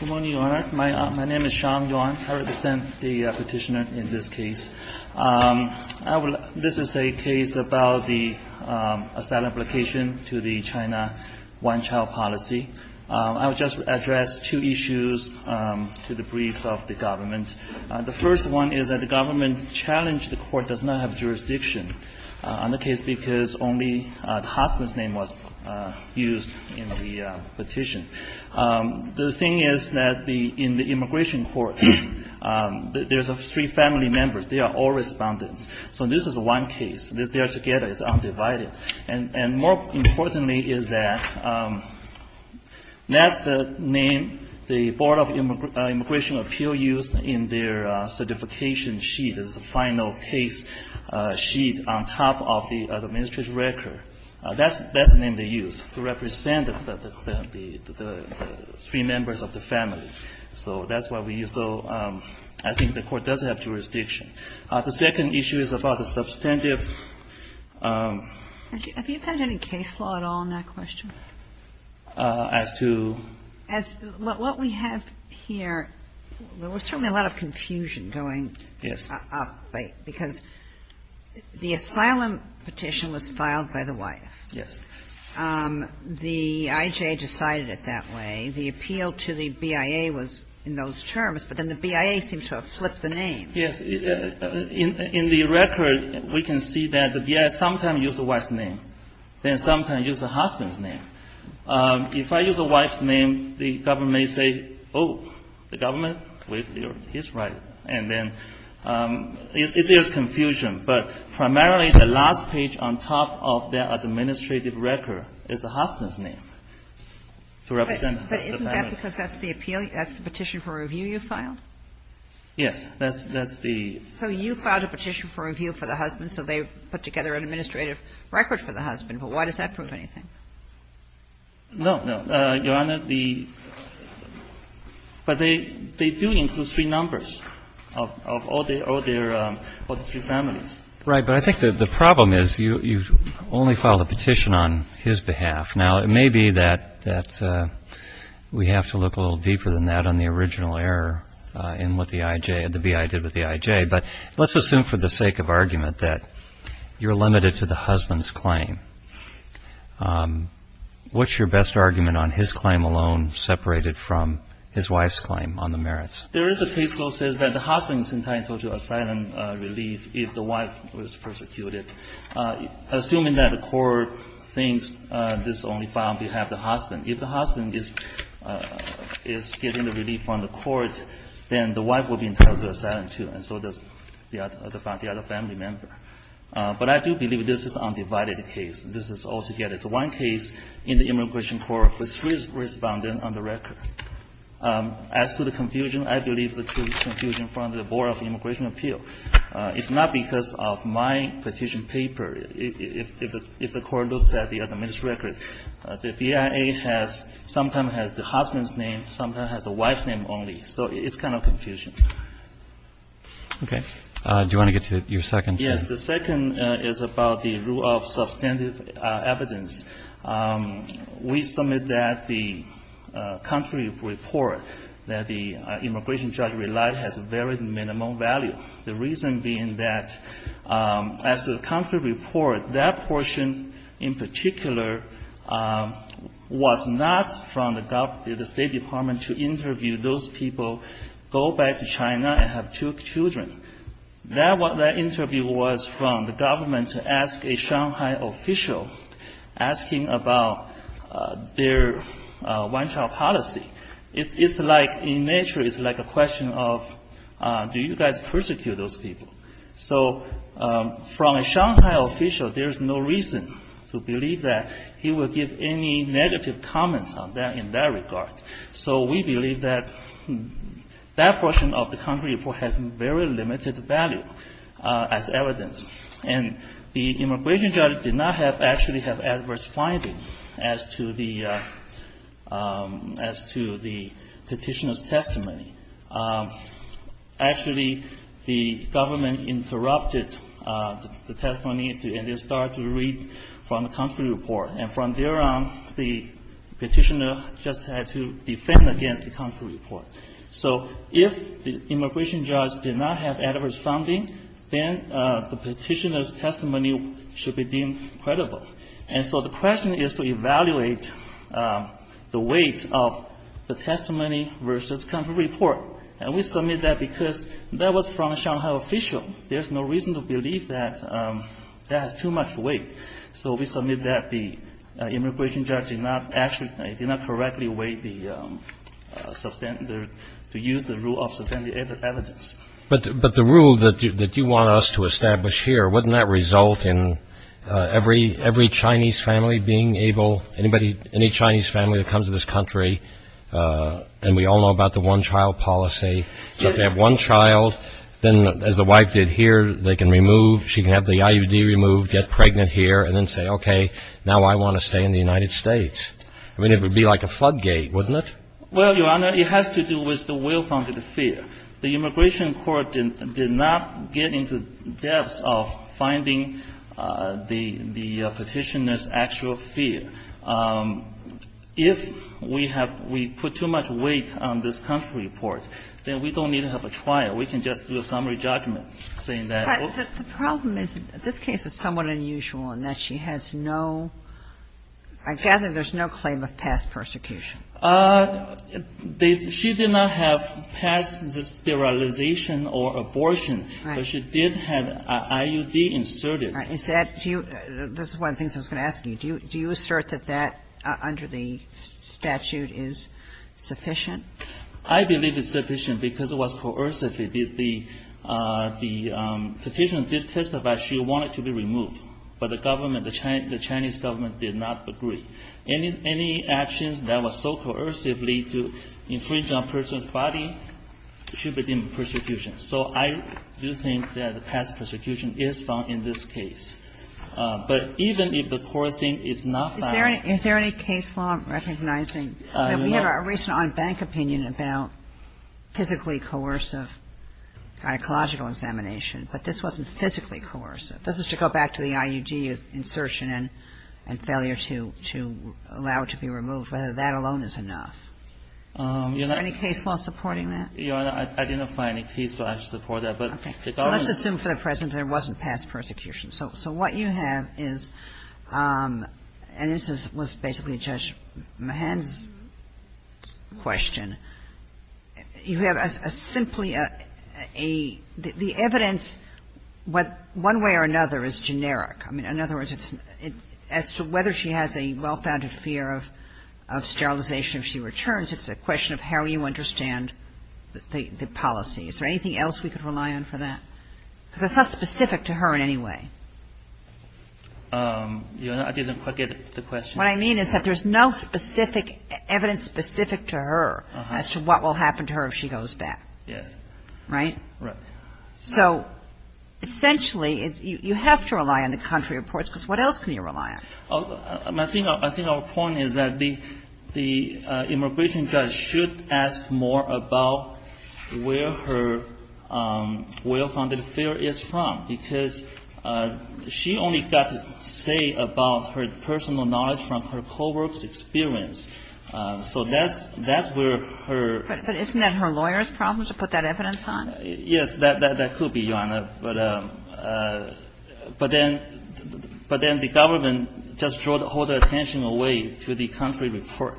Good morning, Your Honors. My name is Xiang Yuan. I represent the petitioner in this case. This is a case about the asylum application to the China One Child Policy. I will just address two issues to the brief of the government. The first one is that the government challenged the court does not have jurisdiction on the case because only the husband's name was used in the petition. The thing is that in the immigration court, there are three family members. They are all respondents, so this is one case. They are together. It's undivided. And more importantly is that that's the name the Board of Immigration Appeals used in their certification sheet. There's a final case sheet on top of the administrative record. That's the name they used to represent the three members of the family. So that's why we use the – I think the court does have jurisdiction. The second issue is about the substantive – KAGAN Have you had any case law at all in that question? GONZALES As to – KAGAN As – what we have here, there was certainly a lot of confusion going – because the asylum petition was filed by the wife. GONZALES Yes. KAGAN The I.J. decided it that way. The appeal to the BIA was in those terms, but then the BIA seemed to have flipped the name. GONZALES Yes. In the record, we can see that the BIA sometimes used the wife's name, then sometimes used the husband's name. If I use a wife's name, the government may say, oh, the government is in agreement with his right. And then there's confusion. But primarily, the last page on top of that administrative record is the husband's name to represent the family. KAGAN But isn't that because that's the appeal – that's the petition for review you filed? GONZALES Yes. That's the – KAGAN So you filed a petition for review for the husband, so they've put together an administrative record for the husband. But why does that prove anything? GONZALES No, no. Your Honor, the – but they do include three numbers of all their – all the three CHIEF JUSTICE ROBERTS Right. But I think the problem is you only filed a petition on his behalf. Now, it may be that we have to look a little deeper than that on the original error in what the I.J. – the BIA did with the I.J. But let's assume for the sake of argument that you're limited to the husband's claim, what's your best argument on his claim alone, separated from his wife's claim on the merits? GONZALES There is a case law that says that the husband is entitled to asylum relief if the wife was persecuted. Assuming that the court thinks this is only filed on behalf of the husband. If the husband is getting the relief from the court, then the wife will be entitled to asylum, too. And so does the other family member. But I do believe this is an undivided case. This is all together. It's one case in the immigration court with three respondents on the record. As to the confusion, I believe it's a confusion from the Board of Immigration Appeal. It's not because of my petition paper. If the court looks at the other men's record, the BIA has – sometimes has the husband's name, sometimes has the wife's name only. So it's kind of confusion. CHIEF JUSTICE ROBERTS Okay. Do you want to get to your second case? The second is about the rule of substantive evidence. We submit that the country report that the immigration judge relied has very minimal value. The reason being that as to the country report, that portion in particular was not from the State Department to interview those people, go back to China and have two children. That interview was from the government to ask a Shanghai official asking about their one-child policy. It's like – in nature, it's like a question of do you guys persecute those people? So from a Shanghai official, there's no reason to believe that he would give any negative comments on that in that regard. So we believe that that portion of the country report has very limited value as evidence. And the immigration judge did not have – actually have adverse findings as to the – as to the Petitioner's testimony. Actually, the government interrupted the testimony and they started to read from the country report. And from there on, the Petitioner just had to defend against the country report. So if the immigration judge did not have adverse findings, then the Petitioner's testimony should be deemed credible. And so the question is to evaluate the weight of the testimony versus country report. And we submit that because that was from a Shanghai official. There's no reason to believe that that has too much weight. So we submit that the immigration judge did not actually – did not correctly weigh the substantive – to use the rule of substantive evidence. But the rule that you want us to establish here, wouldn't that result in every Chinese family being able – anybody – any Chinese family that comes to this country – and we all know about the one-child policy. If they have one child, then as the wife did here, they can remove – she can have the And then the immigration judge can go in there and then say, okay, now I want to stay in the United States. I mean, it would be like a floodgate, wouldn't it? Well, Your Honor, it has to do with the will-founded fear. The immigration court did not get into depths of finding the Petitioner's actual fear. If we have – we put too much weight on this country report, then we don't need to have a trial. We can just do a summary judgment saying that – But the problem is that this case is somewhat unusual in that she has no – I gather there's no claim of past persecution. She did not have past sterilization or abortion. Right. But she did have an IUD inserted. Right. Is that – do you – this is one of the things I was going to ask you. Do you assert that that, under the statute, is sufficient? I believe it's sufficient because it was coercive. The Petitioner did testify she wanted to be removed, but the government – the Chinese government did not agree. Any actions that were so coercively to infringe on a person's body should be deemed persecution. So I do think that past persecution is found in this case. But even if the core thing is not found – Is there any – is there any case law recognizing – I mean, we have a recent on-bank opinion about physically coercive gynecological examination, but this wasn't physically coercive. This is to go back to the IUD insertion and failure to allow it to be removed, whether that alone is enough. Is there any case law supporting that? Your Honor, I didn't find any case law to support that. But the government – Well, what you have is – and this was basically Judge Mahan's question. You have a simply a – the evidence, one way or another, is generic. I mean, in other words, it's – as to whether she has a well-founded fear of sterilization if she returns, it's a question of how you understand the policy. Is there anything else we could rely on for that? Because that's not specific to her in any way. Your Honor, I didn't quite get the question. What I mean is that there's no specific evidence specific to her as to what will happen to her if she goes back. Yes. Right? Right. So essentially, you have to rely on the country reports, because what else can you rely on? I think our point is that the immigration judge should ask more about where her well-founded fear is from, because she only got to say about her personal knowledge from her co-worker's experience. So that's where her – But isn't that her lawyer's problem to put that evidence on? Yes. That could be, Your Honor. But then the government just draws all the attention away to the country report.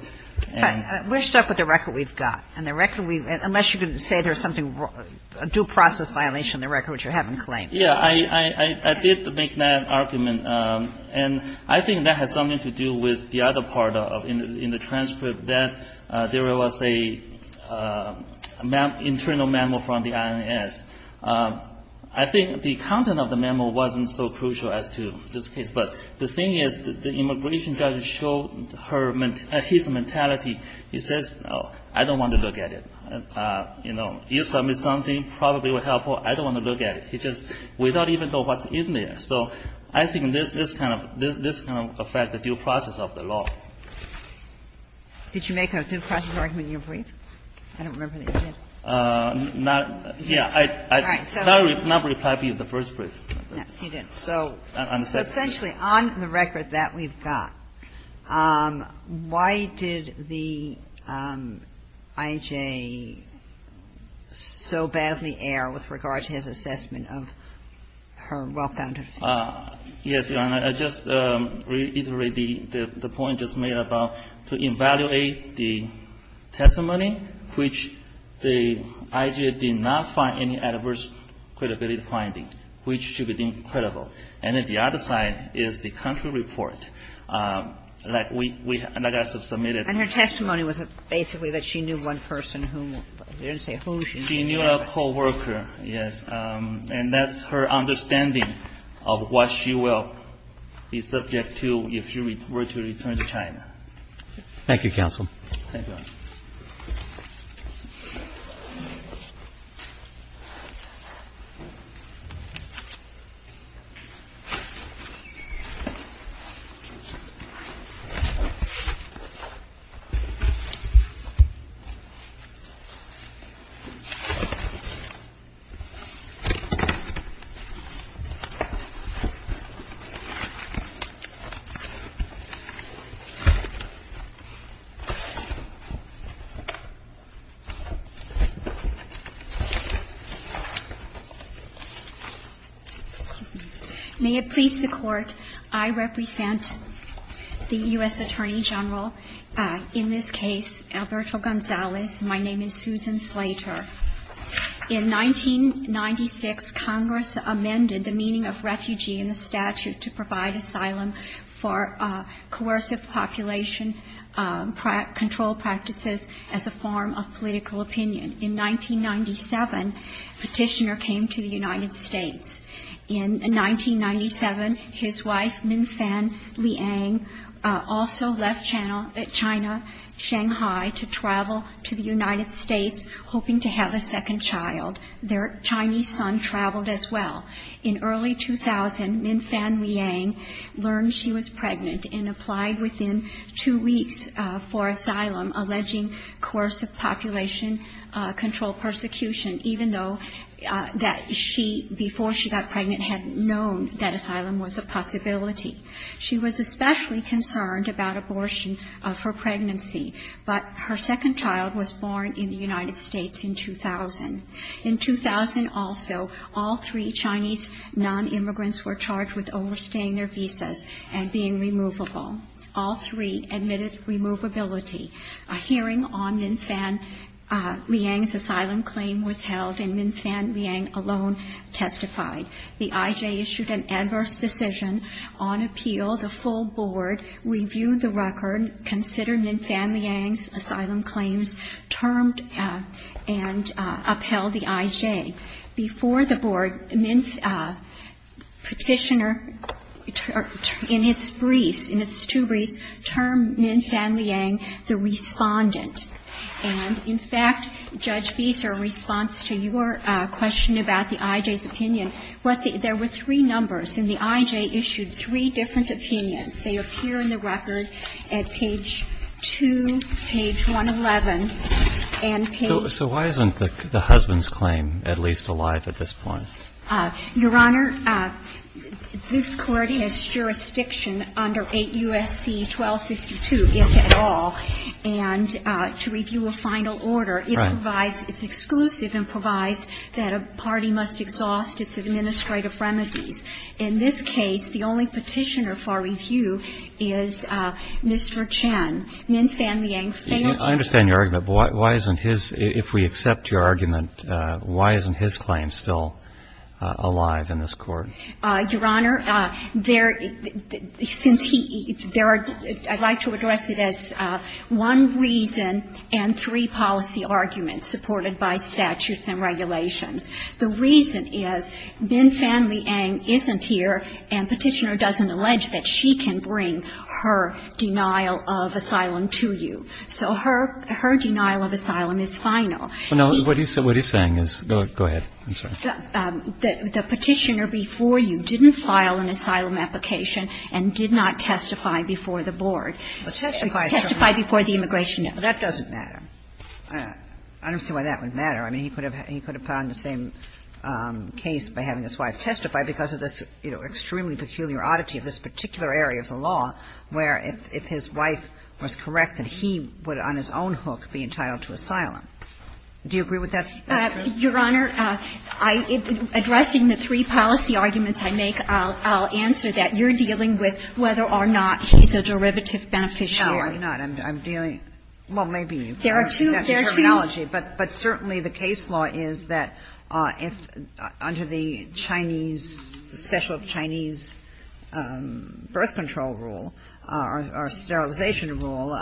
But we're stuck with the record we've got. And the record we've – unless you're going to say there's something – a due process violation in the record, which you haven't claimed. Yeah. I did make that argument. And I think that has something to do with the other part of – in the transcript that there was a internal memo from the INS. I think the content of the memo wasn't so crucial as to this case. But the thing is, the immigration judge showed her – his mentality. He says, oh, I don't want to look at it. You know, you submit something, probably will help her. I don't want to look at it. He just – we don't even know what's in there. So I think this kind of – this kind of affects the due process of the law. Did you make a due process argument in your brief? I don't remember that you did. Not – yeah. All right. So – I did not reply to you in the first brief. Yes, you did. So – I understand. So essentially, on the record that we've got, why did the I.J. so badly err with regard to his assessment of her well-founded faith? Yes, Your Honor. I just reiterate the point just made about to evaluate the testimony which the I.J. did not find any adverse credibility finding, which should be deemed credible. And then the other side is the country report that we – that I submitted. And her testimony was basically that she knew one person who – they didn't say who she knew. She knew a co-worker, yes. And that's her understanding of what she will be subject to if she were to return Thank you, counsel. Thank you, Your Honor. Thank you. May it please the Court, I represent the U.S. Attorney General, in this case, Alberto Gonzalez. My name is Susan Slater. In 1996, Congress amended the meaning of refugee in the statute to provide asylum for coercive population control practices as a form of political opinion. In 1997, Petitioner came to the United States. In 1997, his wife, Minfan Liang, also left China, Shanghai, to travel to the United States, hoping to have a second child. Their Chinese son traveled as well. In early 2000, Minfan Liang learned she was pregnant and applied within two weeks for asylum, alleging coercive population control persecution, even though that she before she got pregnant had known that asylum was a possibility. She was especially concerned about abortion for pregnancy, but her second child was born in the United States in 2000. In 2000 also, all three Chinese nonimmigrants were charged with overstaying their visas and being removable. All three admitted removability. A hearing on Minfan Liang's asylum claim was held, and Minfan Liang alone testified. The I.J. issued an adverse decision on appeal. The full board reviewed the record, considered Minfan Liang's asylum claims, termed and upheld the I.J. Before the board, Petitioner, in his briefs, in his two briefs, termed Minfan Liang the respondent. And in fact, Judge Fischer, in response to your question about the I.J.'s opinion, there were three numbers, and the I.J. issued three different opinions. They appear in the record at page 2, page 111. And page --- So why isn't the husband's claim at least alive at this point? Your Honor, this Court has jurisdiction under 8 U.S.C. 1252, if at all. And to review a final order, it provides -- Right. It's exclusive and provides that a party must exhaust its administrative remedies. In this case, the only Petitioner for review is Mr. Chen. Minfan Liang failed to- I understand your argument, but why isn't his, if we accept your argument, why isn't his claim still alive in this Court? Your Honor, there, since he, there are, I'd like to address it as one reason and three policy arguments supported by statutes and regulations. The reason is Minfan Liang isn't here and Petitioner doesn't allege that she can bring her denial of asylum to you. So her, her denial of asylum is final. Well, no, what he's, what he's saying is, go ahead. I'm sorry. The Petitioner before you didn't file an asylum application and did not testify before the board. Testify before the immigration. That doesn't matter. I don't see why that would matter. I mean, he could have, he could have found the same case by having his wife testify because of this, you know, extremely peculiar oddity of this particular area of the law where if his wife was correct that he would on his own hook be entitled to asylum. Do you agree with that? Your Honor, I, addressing the three policy arguments I make, I'll, I'll answer that. You're dealing with whether or not he's a derivative beneficiary. No, I'm not. I'm dealing, well, maybe. There are two. But, but certainly the case law is that if, under the Chinese, special Chinese birth control rule or sterilization rule,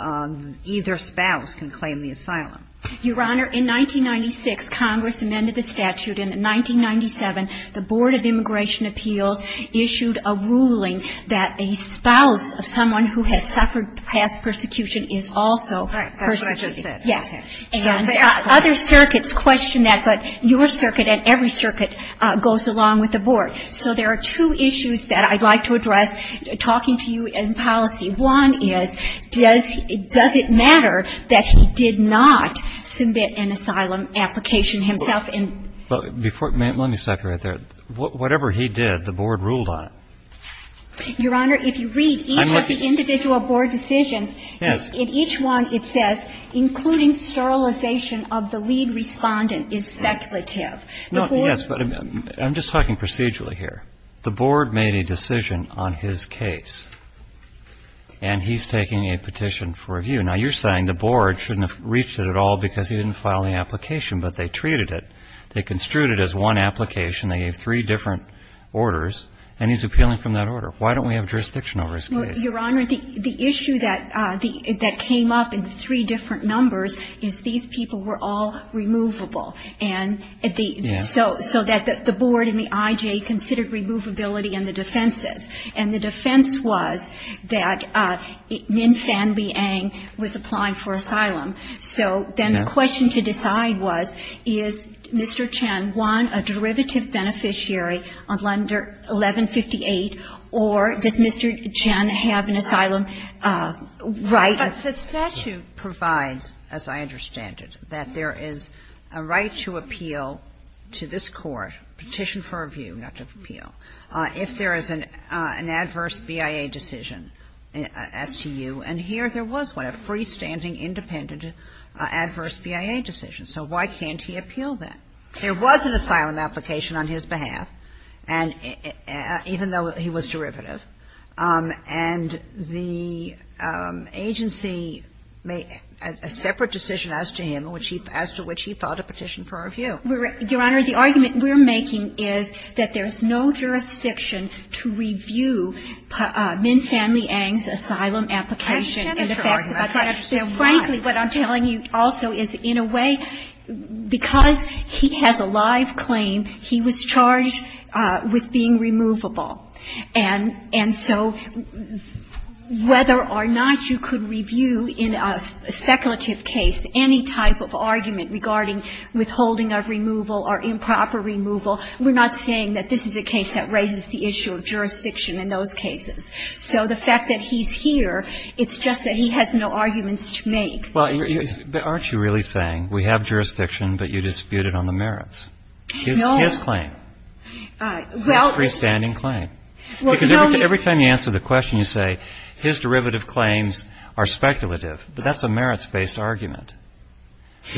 either spouse can claim the asylum. Your Honor, in 1996, Congress amended the statute. In 1997, the Board of Immigration Appeals issued a ruling that a spouse of someone who has suffered past persecution is also persecuted. That's what I just said. Yes. And other circuits question that, but your circuit and every circuit goes along with the Board. So there are two issues that I'd like to address talking to you in policy. One is, does, does it matter that he did not submit an asylum application himself? Before, let me stop you right there. Whatever he did, the Board ruled on it. Your Honor, if you read each of the individual Board decisions. Yes. In each one, it says, including sterilization of the lead respondent is speculative. The Board. Yes, but I'm just talking procedurally here. The Board made a decision on his case, and he's taking a petition for review. Now, you're saying the Board shouldn't have reached it at all because he didn't file the application, but they treated it, they construed it as one application, they gave three different orders, and he's appealing from that order. Why don't we have jurisdiction over his case? Well, Your Honor, the issue that came up in the three different numbers is these people were all removable. Yes. So that the Board and the IJA considered removability and the defenses. And the defense was that Min Fan Liang was applying for asylum. Yes. So then the question to decide was, is Mr. Chen one, a derivative beneficiary under 1158, or does Mr. Chen have an asylum right? But the statute provides, as I understand it, that there is a right to appeal to this Court, petition for review, not to appeal, if there is an adverse BIA decision as to you, and here there was one, a freestanding independent adverse BIA decision. So why can't he appeal that? There was an asylum application on his behalf, and even though he was derivative, and the agency made a separate decision as to him, as to which he filed a petition for review. Your Honor, the argument we're making is that there's no jurisdiction to review Min Fan Liang's asylum application. I understand that argument. I understand why. But, frankly, what I'm telling you also is, in a way, because he has a live claim, he was charged with being removable. And so whether or not you could review in a speculative case any type of argument regarding withholding of removal or improper removal, we're not saying that this is a case that raises the issue of jurisdiction in those cases. So the fact that he's here, it's just that he has no arguments to make. Well, aren't you really saying we have jurisdiction, but you disputed on the merits? No. His claim. Well. His freestanding claim. Well, tell me. Because every time you answer the question, you say, his derivative claims are speculative. But that's a merits-based argument.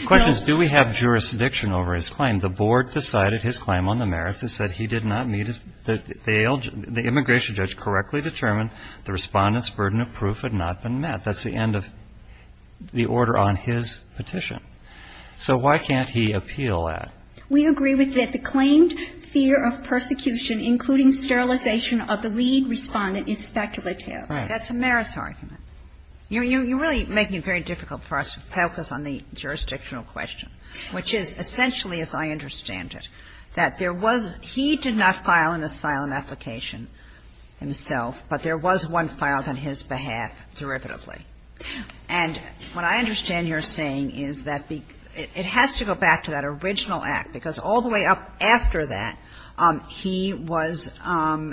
The question is, do we have jurisdiction over his claim? The board decided his claim on the merits is that he did not meet the immigration requirements of the lead respondent, and the judge correctly determined the respondent's burden of proof had not been met. That's the end of the order on his petition. So why can't he appeal that? We agree with it. The claimed fear of persecution, including sterilization of the lead respondent, is speculative. Right. That's a merits argument. You're really making it very difficult for us to focus on the jurisdictional question, which is essentially, as I understand it, that there was he did not file an asylum application himself, but there was one filed on his behalf derivatively. And what I understand you're saying is that it has to go back to that original act, because all the way up after that, he was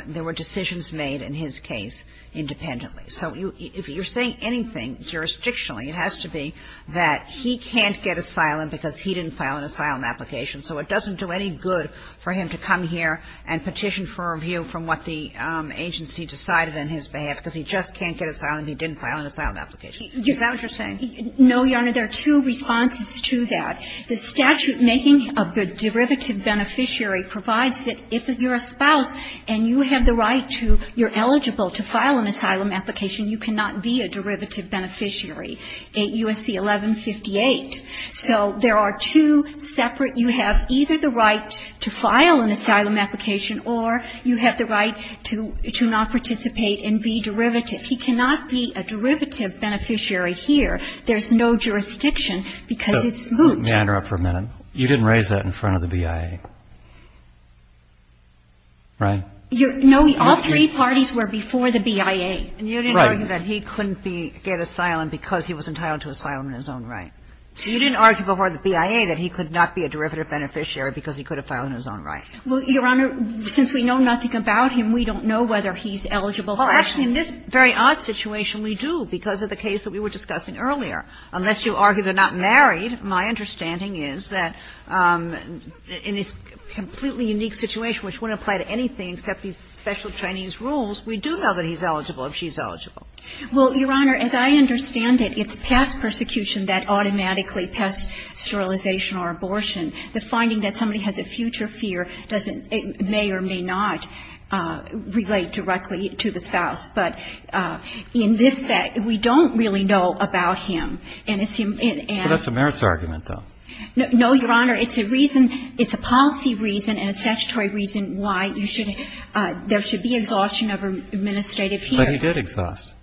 there were decisions made in his case independently. So if you're saying anything jurisdictionally, it has to be that he can't get asylum because he didn't file an asylum application. So it doesn't do any good for him to come here and petition for a review from what the agency decided on his behalf, because he just can't get asylum, he didn't file an asylum application. Is that what you're saying? No, Your Honor. There are two responses to that. The statute-making of the derivative beneficiary provides that if you're a spouse and you have the right to, you're eligible to file an asylum application, you cannot be a derivative beneficiary, USC 1158. So there are two separate, you have either the right to file an asylum application or you have the right to not participate and be derivative. He cannot be a derivative beneficiary here. There's no jurisdiction, because it's moot. Let me interrupt for a minute. You didn't raise that in front of the BIA, right? No, all three parties were before the BIA. Right. And you didn't argue that he couldn't get asylum because he was entitled to asylum in his own right. You didn't argue before the BIA that he could not be a derivative beneficiary because he could have filed in his own right. Well, Your Honor, since we know nothing about him, we don't know whether he's eligible for asylum. Well, actually, in this very odd situation, we do, because of the case that we were discussing earlier. Unless you argue they're not married, my understanding is that in this completely unique situation, which wouldn't apply to anything except these special Chinese rules, we do know that he's eligible if she's eligible. Well, Your Honor, as I understand it, it's past persecution that automatically past sterilization or abortion. The finding that somebody has a future fear doesn't may or may not relate directly to the spouse. But in this case, we don't really know about him. And it's him and his family. But that's a merits argument, though. No, Your Honor. It's a policy reason and a statutory reason why there should be exhaustion of administrative fear. But he did exhaust.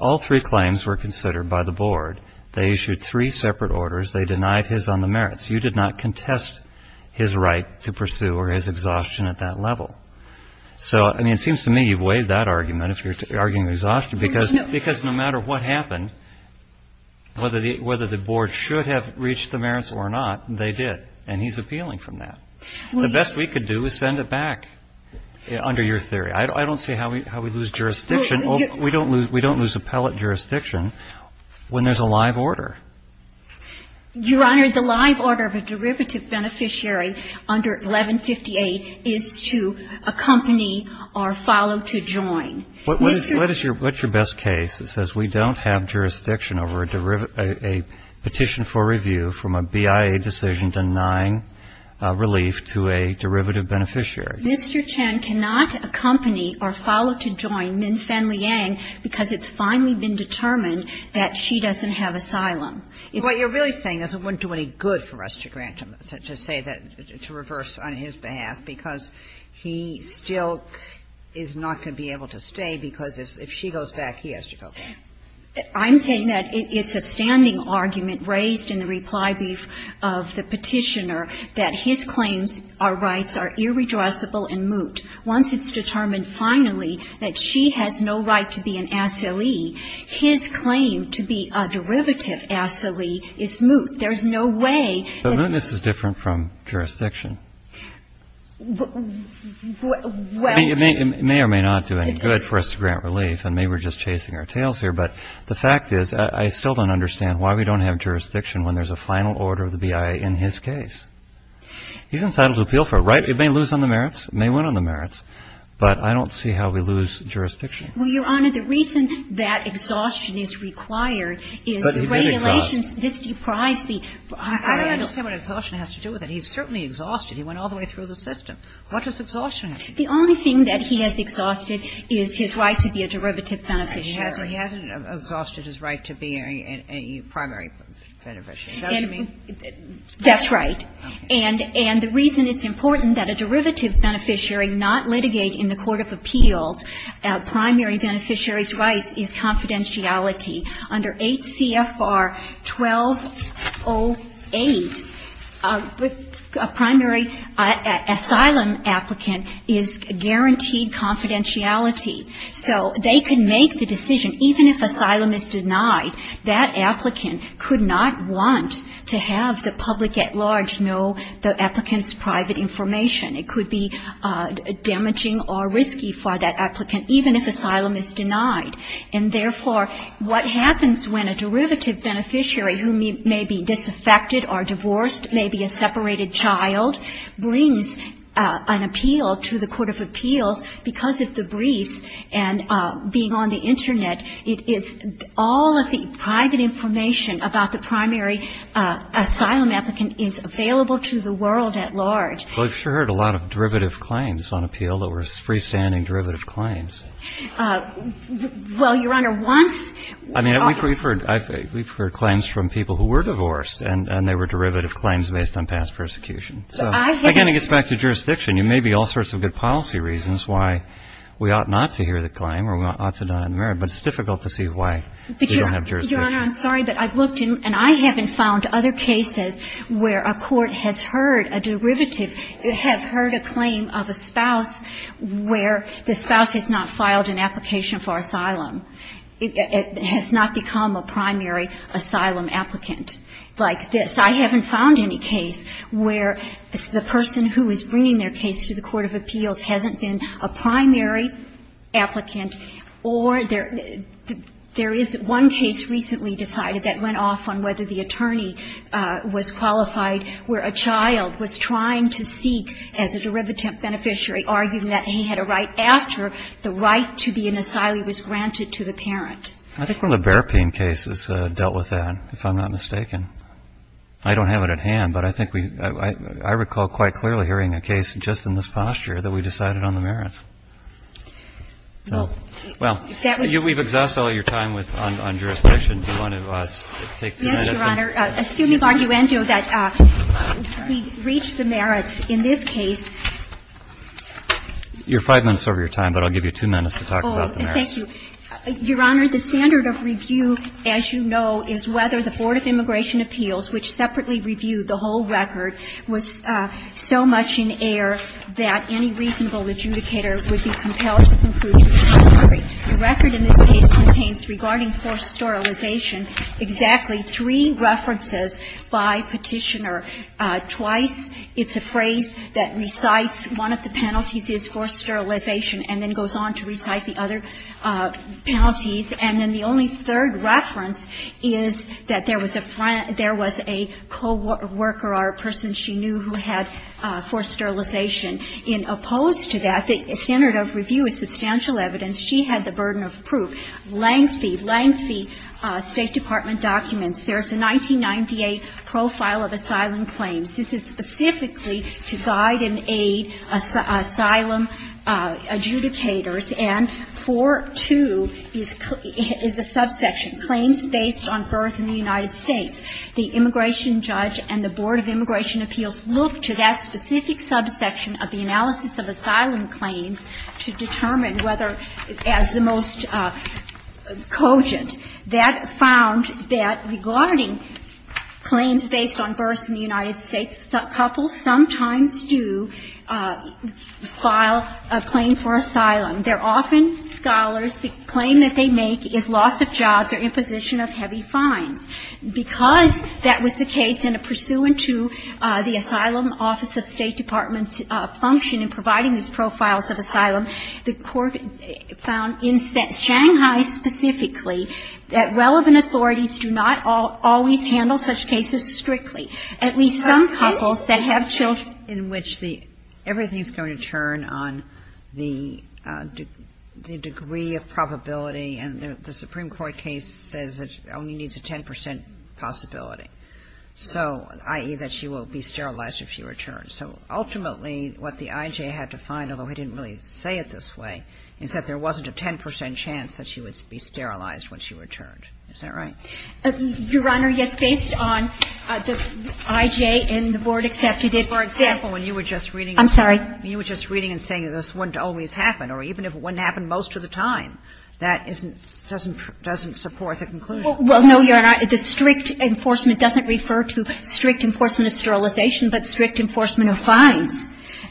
All three claims were considered by the board. They issued three separate orders. They denied his on the merits. You did not contest his right to pursue or his exhaustion at that level. So, I mean, it seems to me you've waived that argument if you're arguing exhaustion because no matter what happened, whether the board should have reached the merits or not, they did. And he's appealing from that. The best we could do is send it back under your theory. I don't see how we lose jurisdiction. We don't lose appellate jurisdiction when there's a live order. Your Honor, the live order of a derivative beneficiary under 1158 is to accompany or follow to join. What's your best case that says we don't have jurisdiction over a petition for review from a BIA decision denying relief to a derivative beneficiary? Mr. Chen cannot accompany or follow to join Min Fen-liang because it's finally been determined that she doesn't have asylum. What you're really saying is it wouldn't do any good for us to grant him, to say that, to reverse on his behalf, because he still is not going to be able to stay because if she goes back, he has to go back. I'm saying that it's a standing argument raised in the reply brief of the Petitioner that his claims, our rights, are irreducible and moot. Once it's determined finally that she has no right to be an asylee, his claim to be a derivative asylee is moot. There's no way that he can be an asylee. It's a standing argument raised in the reply brief of the Petitioner that his claims, our rights, are irreducible and moot. And the fact is, I still don't understand why we don't have jurisdiction. It may or may not do any good for us to grant relief, and maybe we're just chasing our tails here, but the fact is, I still don't understand why we don't have jurisdiction when there's a final order of the BIA in his case. He's entitled to appeal for a right. It may lose on the merits. It may win on the merits. But I don't see how we lose jurisdiction. Well, Your Honor, the reason that exhaustion is required is regulations. But he did exhaust. This deprives the asylum. I don't understand what exhaustion has to do with it. He certainly exhausted. He went all the way through the system. What does exhaustion have to do with it? The only thing that he has exhausted is his right to be a derivative beneficiary. He hasn't exhausted his right to be a primary beneficiary. Does that make sense? That's right. And the reason it's important that a derivative beneficiary not litigate in the court of appeals primary beneficiary's rights is confidentiality. Under 8 CFR 1208, a primary asylum applicant is guaranteed confidentiality. So they can make the decision, even if asylum is denied, that applicant could not want to have the public at large know the applicant's private information. It could be damaging or risky for that applicant, even if asylum is denied. And, therefore, what happens when a derivative beneficiary who may be disaffected or divorced, maybe a separated child, brings an appeal to the court of appeals, because of the briefs and being on the Internet, it is all of the private information about the primary asylum applicant is available to the world at large. Well, we've sure heard a lot of derivative claims on appeal that were freestanding derivative claims. Well, Your Honor, once we've heard claims from people who were divorced, and they were derivative claims based on past persecution. So, again, it gets back to jurisdiction. There may be all sorts of good policy reasons why we ought not to hear the claim or we ought to not admit it, but it's difficult to see why we don't have jurisdiction. Your Honor, I'm sorry, but I've looked, and I haven't found other cases where a court has heard a derivative, have heard a claim of a spouse where the spouse has not filed an application for asylum, has not become a primary asylum applicant like this. I haven't found any case where the person who is bringing their case to the court of appeals hasn't been a primary applicant or there is one case recently decided that went off on whether the attorney was qualified where a child was trying to seek as a derivative beneficiary, arguing that he had a right after the right to be in asylum was granted to the parent. I think one of the bear pain cases dealt with that, if I'm not mistaken. I don't have it at hand, but I think we, I recall quite clearly hearing a case just in this posture that we decided on the merits. So, well, we've exhausted all your time on jurisdiction. Do you want to take two minutes? Yes, Your Honor. Excuse me, Barguendo, that we've reached the merits in this case. You're five minutes over your time, but I'll give you two minutes to talk about the merits. Oh, thank you. Your Honor, the standard of review, as you know, is whether the Board of Immigration The record in this case contains, regarding forced sterilization, exactly three references by Petitioner. Twice, it's a phrase that recites one of the penalties is forced sterilization and then goes on to recite the other penalties. And then the only third reference is that there was a co-worker or a person she knew who had forced sterilization. In opposed to that, the standard of review is substantial evidence. She had the burden of proof. Lengthy, lengthy State Department documents. There's a 1998 profile of asylum claims. This is specifically to guide and aid asylum adjudicators. And 4-2 is a subsection, claims based on birth in the United States. The immigration judge and the Board of Immigration Appeals look to that specific subsection of the analysis of asylum claims to determine whether, as the most cogent, that found that regarding claims based on births in the United States, couples sometimes do file a claim for asylum. They're often scholars. The claim that they make is loss of jobs or imposition of heavy fines. Because that was the case and pursuant to the Asylum Office of State Department's function in providing these profiles of asylum, the Court found in Shanghai specifically that relevant authorities do not always handle such cases strictly. At least some couples that have children. Kagan in which everything is going to turn on the degree of probability and the Supreme Court case says it only needs a 10 percent possibility. So, i.e., that she will be sterilized if she returns. So ultimately what the I.J. had to find, although he didn't really say it this way, is that there wasn't a 10 percent chance that she would be sterilized when she returned. Is that right? Your Honor, yes. Based on the I.J. and the Board accepted it. For example, when you were just reading. I'm sorry. You were just reading and saying this wouldn't always happen or even if it wouldn't happen most of the time. That doesn't support the conclusion. Well, no, Your Honor. The strict enforcement doesn't refer to strict enforcement of sterilization, but strict enforcement of fines.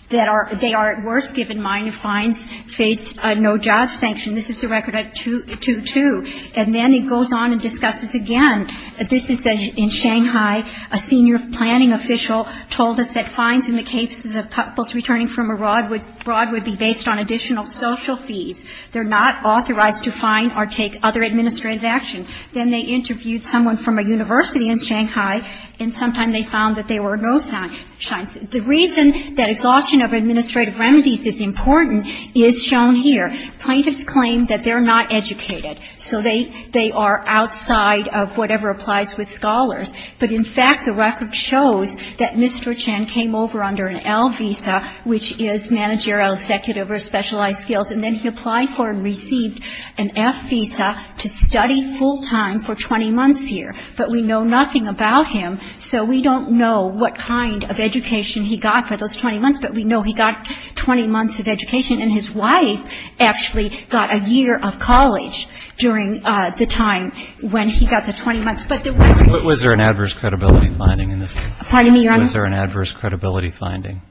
They are at worst given minor fines face no-judge sanction. This is a record at 2-2. And then it goes on and discusses again. This is in Shanghai. A senior planning official told us that fines in the cases of couples returning from abroad would be based on additional social fees. They're not authorized to fine or take other administrative action. Then they interviewed someone from a university in Shanghai, and sometime they found that there were no sanctions. The reason that exhaustion of administrative remedies is important is shown here. Plaintiffs claim that they're not educated, so they are outside of whatever applies with scholars. But in fact, the record shows that Mr. Chen came over under an L visa, which is managerial, executive or specialized skills, and then he applied for and received an F visa to study full-time for 20 months here. But we know nothing about him, so we don't know what kind of education he got for those 20 months, but we know he got 20 months of education. And his wife actually got a year of college during the time when he got the 20 months. Was there an adverse credibility finding in this case? Pardon me, Your Honor? Was there an adverse credibility finding?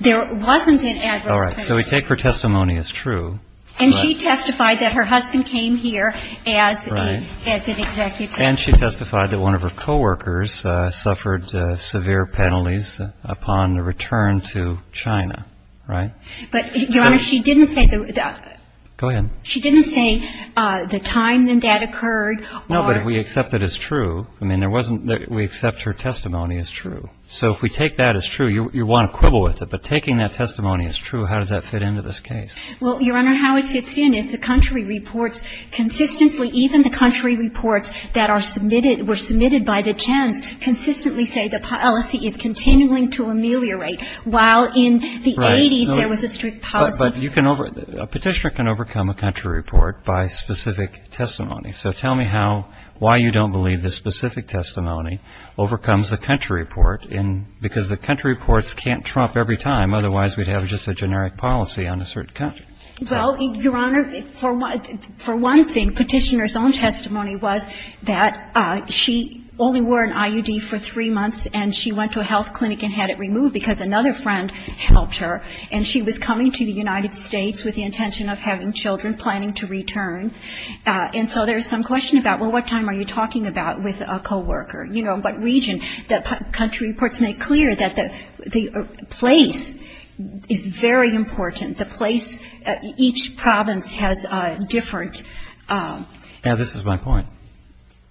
There wasn't an adverse credibility finding. All right. So we take her testimony as true. And she testified that her husband came here as an executive. Right. And she testified that one of her co-workers suffered severe penalties upon the return to China, right? But, Your Honor, she didn't say the... Go ahead. She didn't say the time that that occurred or... No, but if we accept it as true, I mean, there wasn't... We accept her testimony as true. So if we take that as true, you want to quibble with it, but taking that testimony as true, how does that fit into this case? Well, Your Honor, how it fits in is the country reports consistently, even the country reports that are submitted, were submitted by the Chen's, consistently say the policy is continuing to ameliorate, while in the 80s there was a strict policy... But you can over... A petitioner can overcome a country report by specific testimony. So tell me how, why you don't believe this specific testimony overcomes the country report because the country reports can't trump every time, otherwise we'd have just a generic policy on a certain country. Well, Your Honor, for one thing, petitioner's own testimony was that she only wore an IUD for three months and she went to a health clinic and had it removed because another friend helped her, and she was coming to the United States with the intention of having children, planning to return. And so there's some question about, well, what time are you talking about with a co-worker? You know, what region? The country reports make clear that the place is very important. The place, each province has a different... And this is my point.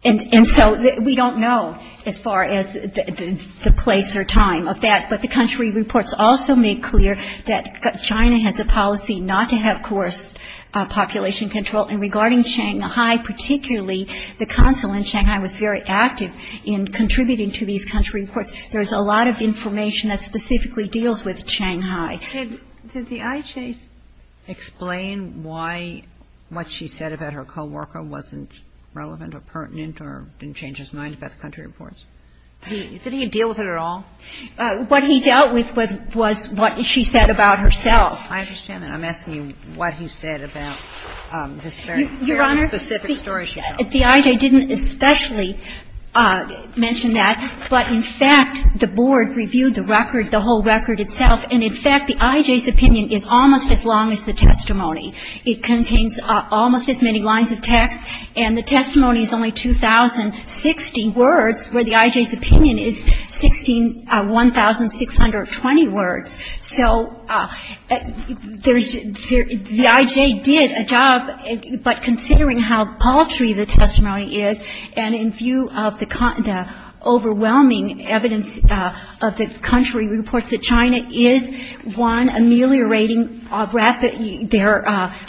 And so we don't know as far as the place or time of that, but the country reports also make clear that China has a policy not to have coerced population control and regarding Shanghai, particularly, the consul in Shanghai was very active in contributing to these country reports. There's a lot of information that specifically deals with Shanghai. Did the IJ explain why what she said about her co-worker wasn't relevant or pertinent or didn't change his mind about the country reports? Did he deal with it at all? What he dealt with was what she said about herself. I understand that. I'm asking you what he said about this very specific story she told. Your Honor, the IJ didn't especially mention that, but in fact, the board reviewed the record, the whole record itself, and in fact, the IJ's opinion is almost as long as the testimony. It contains almost as many lines of text, and the testimony is only 2,060 words, where the IJ's opinion is 1,620 words. So the IJ did a job, but considering how paltry the testimony is and in view of the overwhelming evidence of the country reports that China is, one, ameliorating rapidly their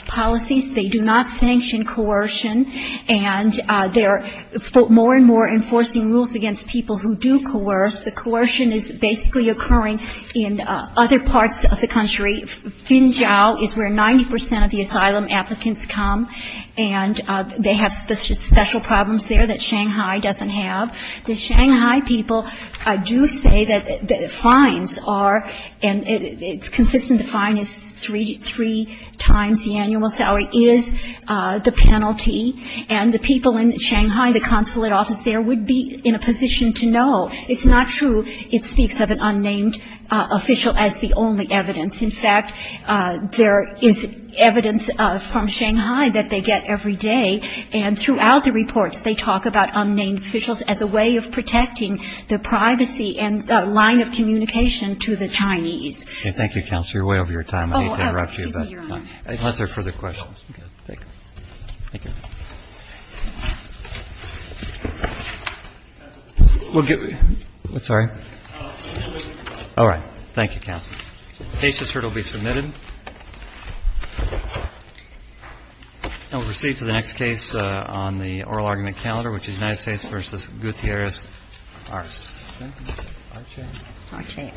policies. They do not sanction coercion, and they are more and more enforcing rules against people who do coerce. The coercion is basically occurring in other parts of the country. Xinjiang is where 90 percent of the asylum applicants come, and they have special problems there that Shanghai doesn't have. The Shanghai people do say that the fines are, and it's consistent, the fine is three times the annual salary, is the penalty, and the people in Shanghai, the consulate office there, would be in a position to know. It's not true it speaks of an unnamed official as the only evidence. In fact, there is evidence from Shanghai that they get every day, and throughout the reports, they talk about unnamed officials as a way of protecting the privacy and line of communication to the Chinese. Roberts. Thank you, Counselor. You're way over your time. I didn't mean to interrupt you, but unless there are further questions. All right. Thank you, Counselor. We'll proceed to the next case on the oral argument calendar, which is United States v. Gutierrez-Arce. Arce. Arce. Arce. Thank you.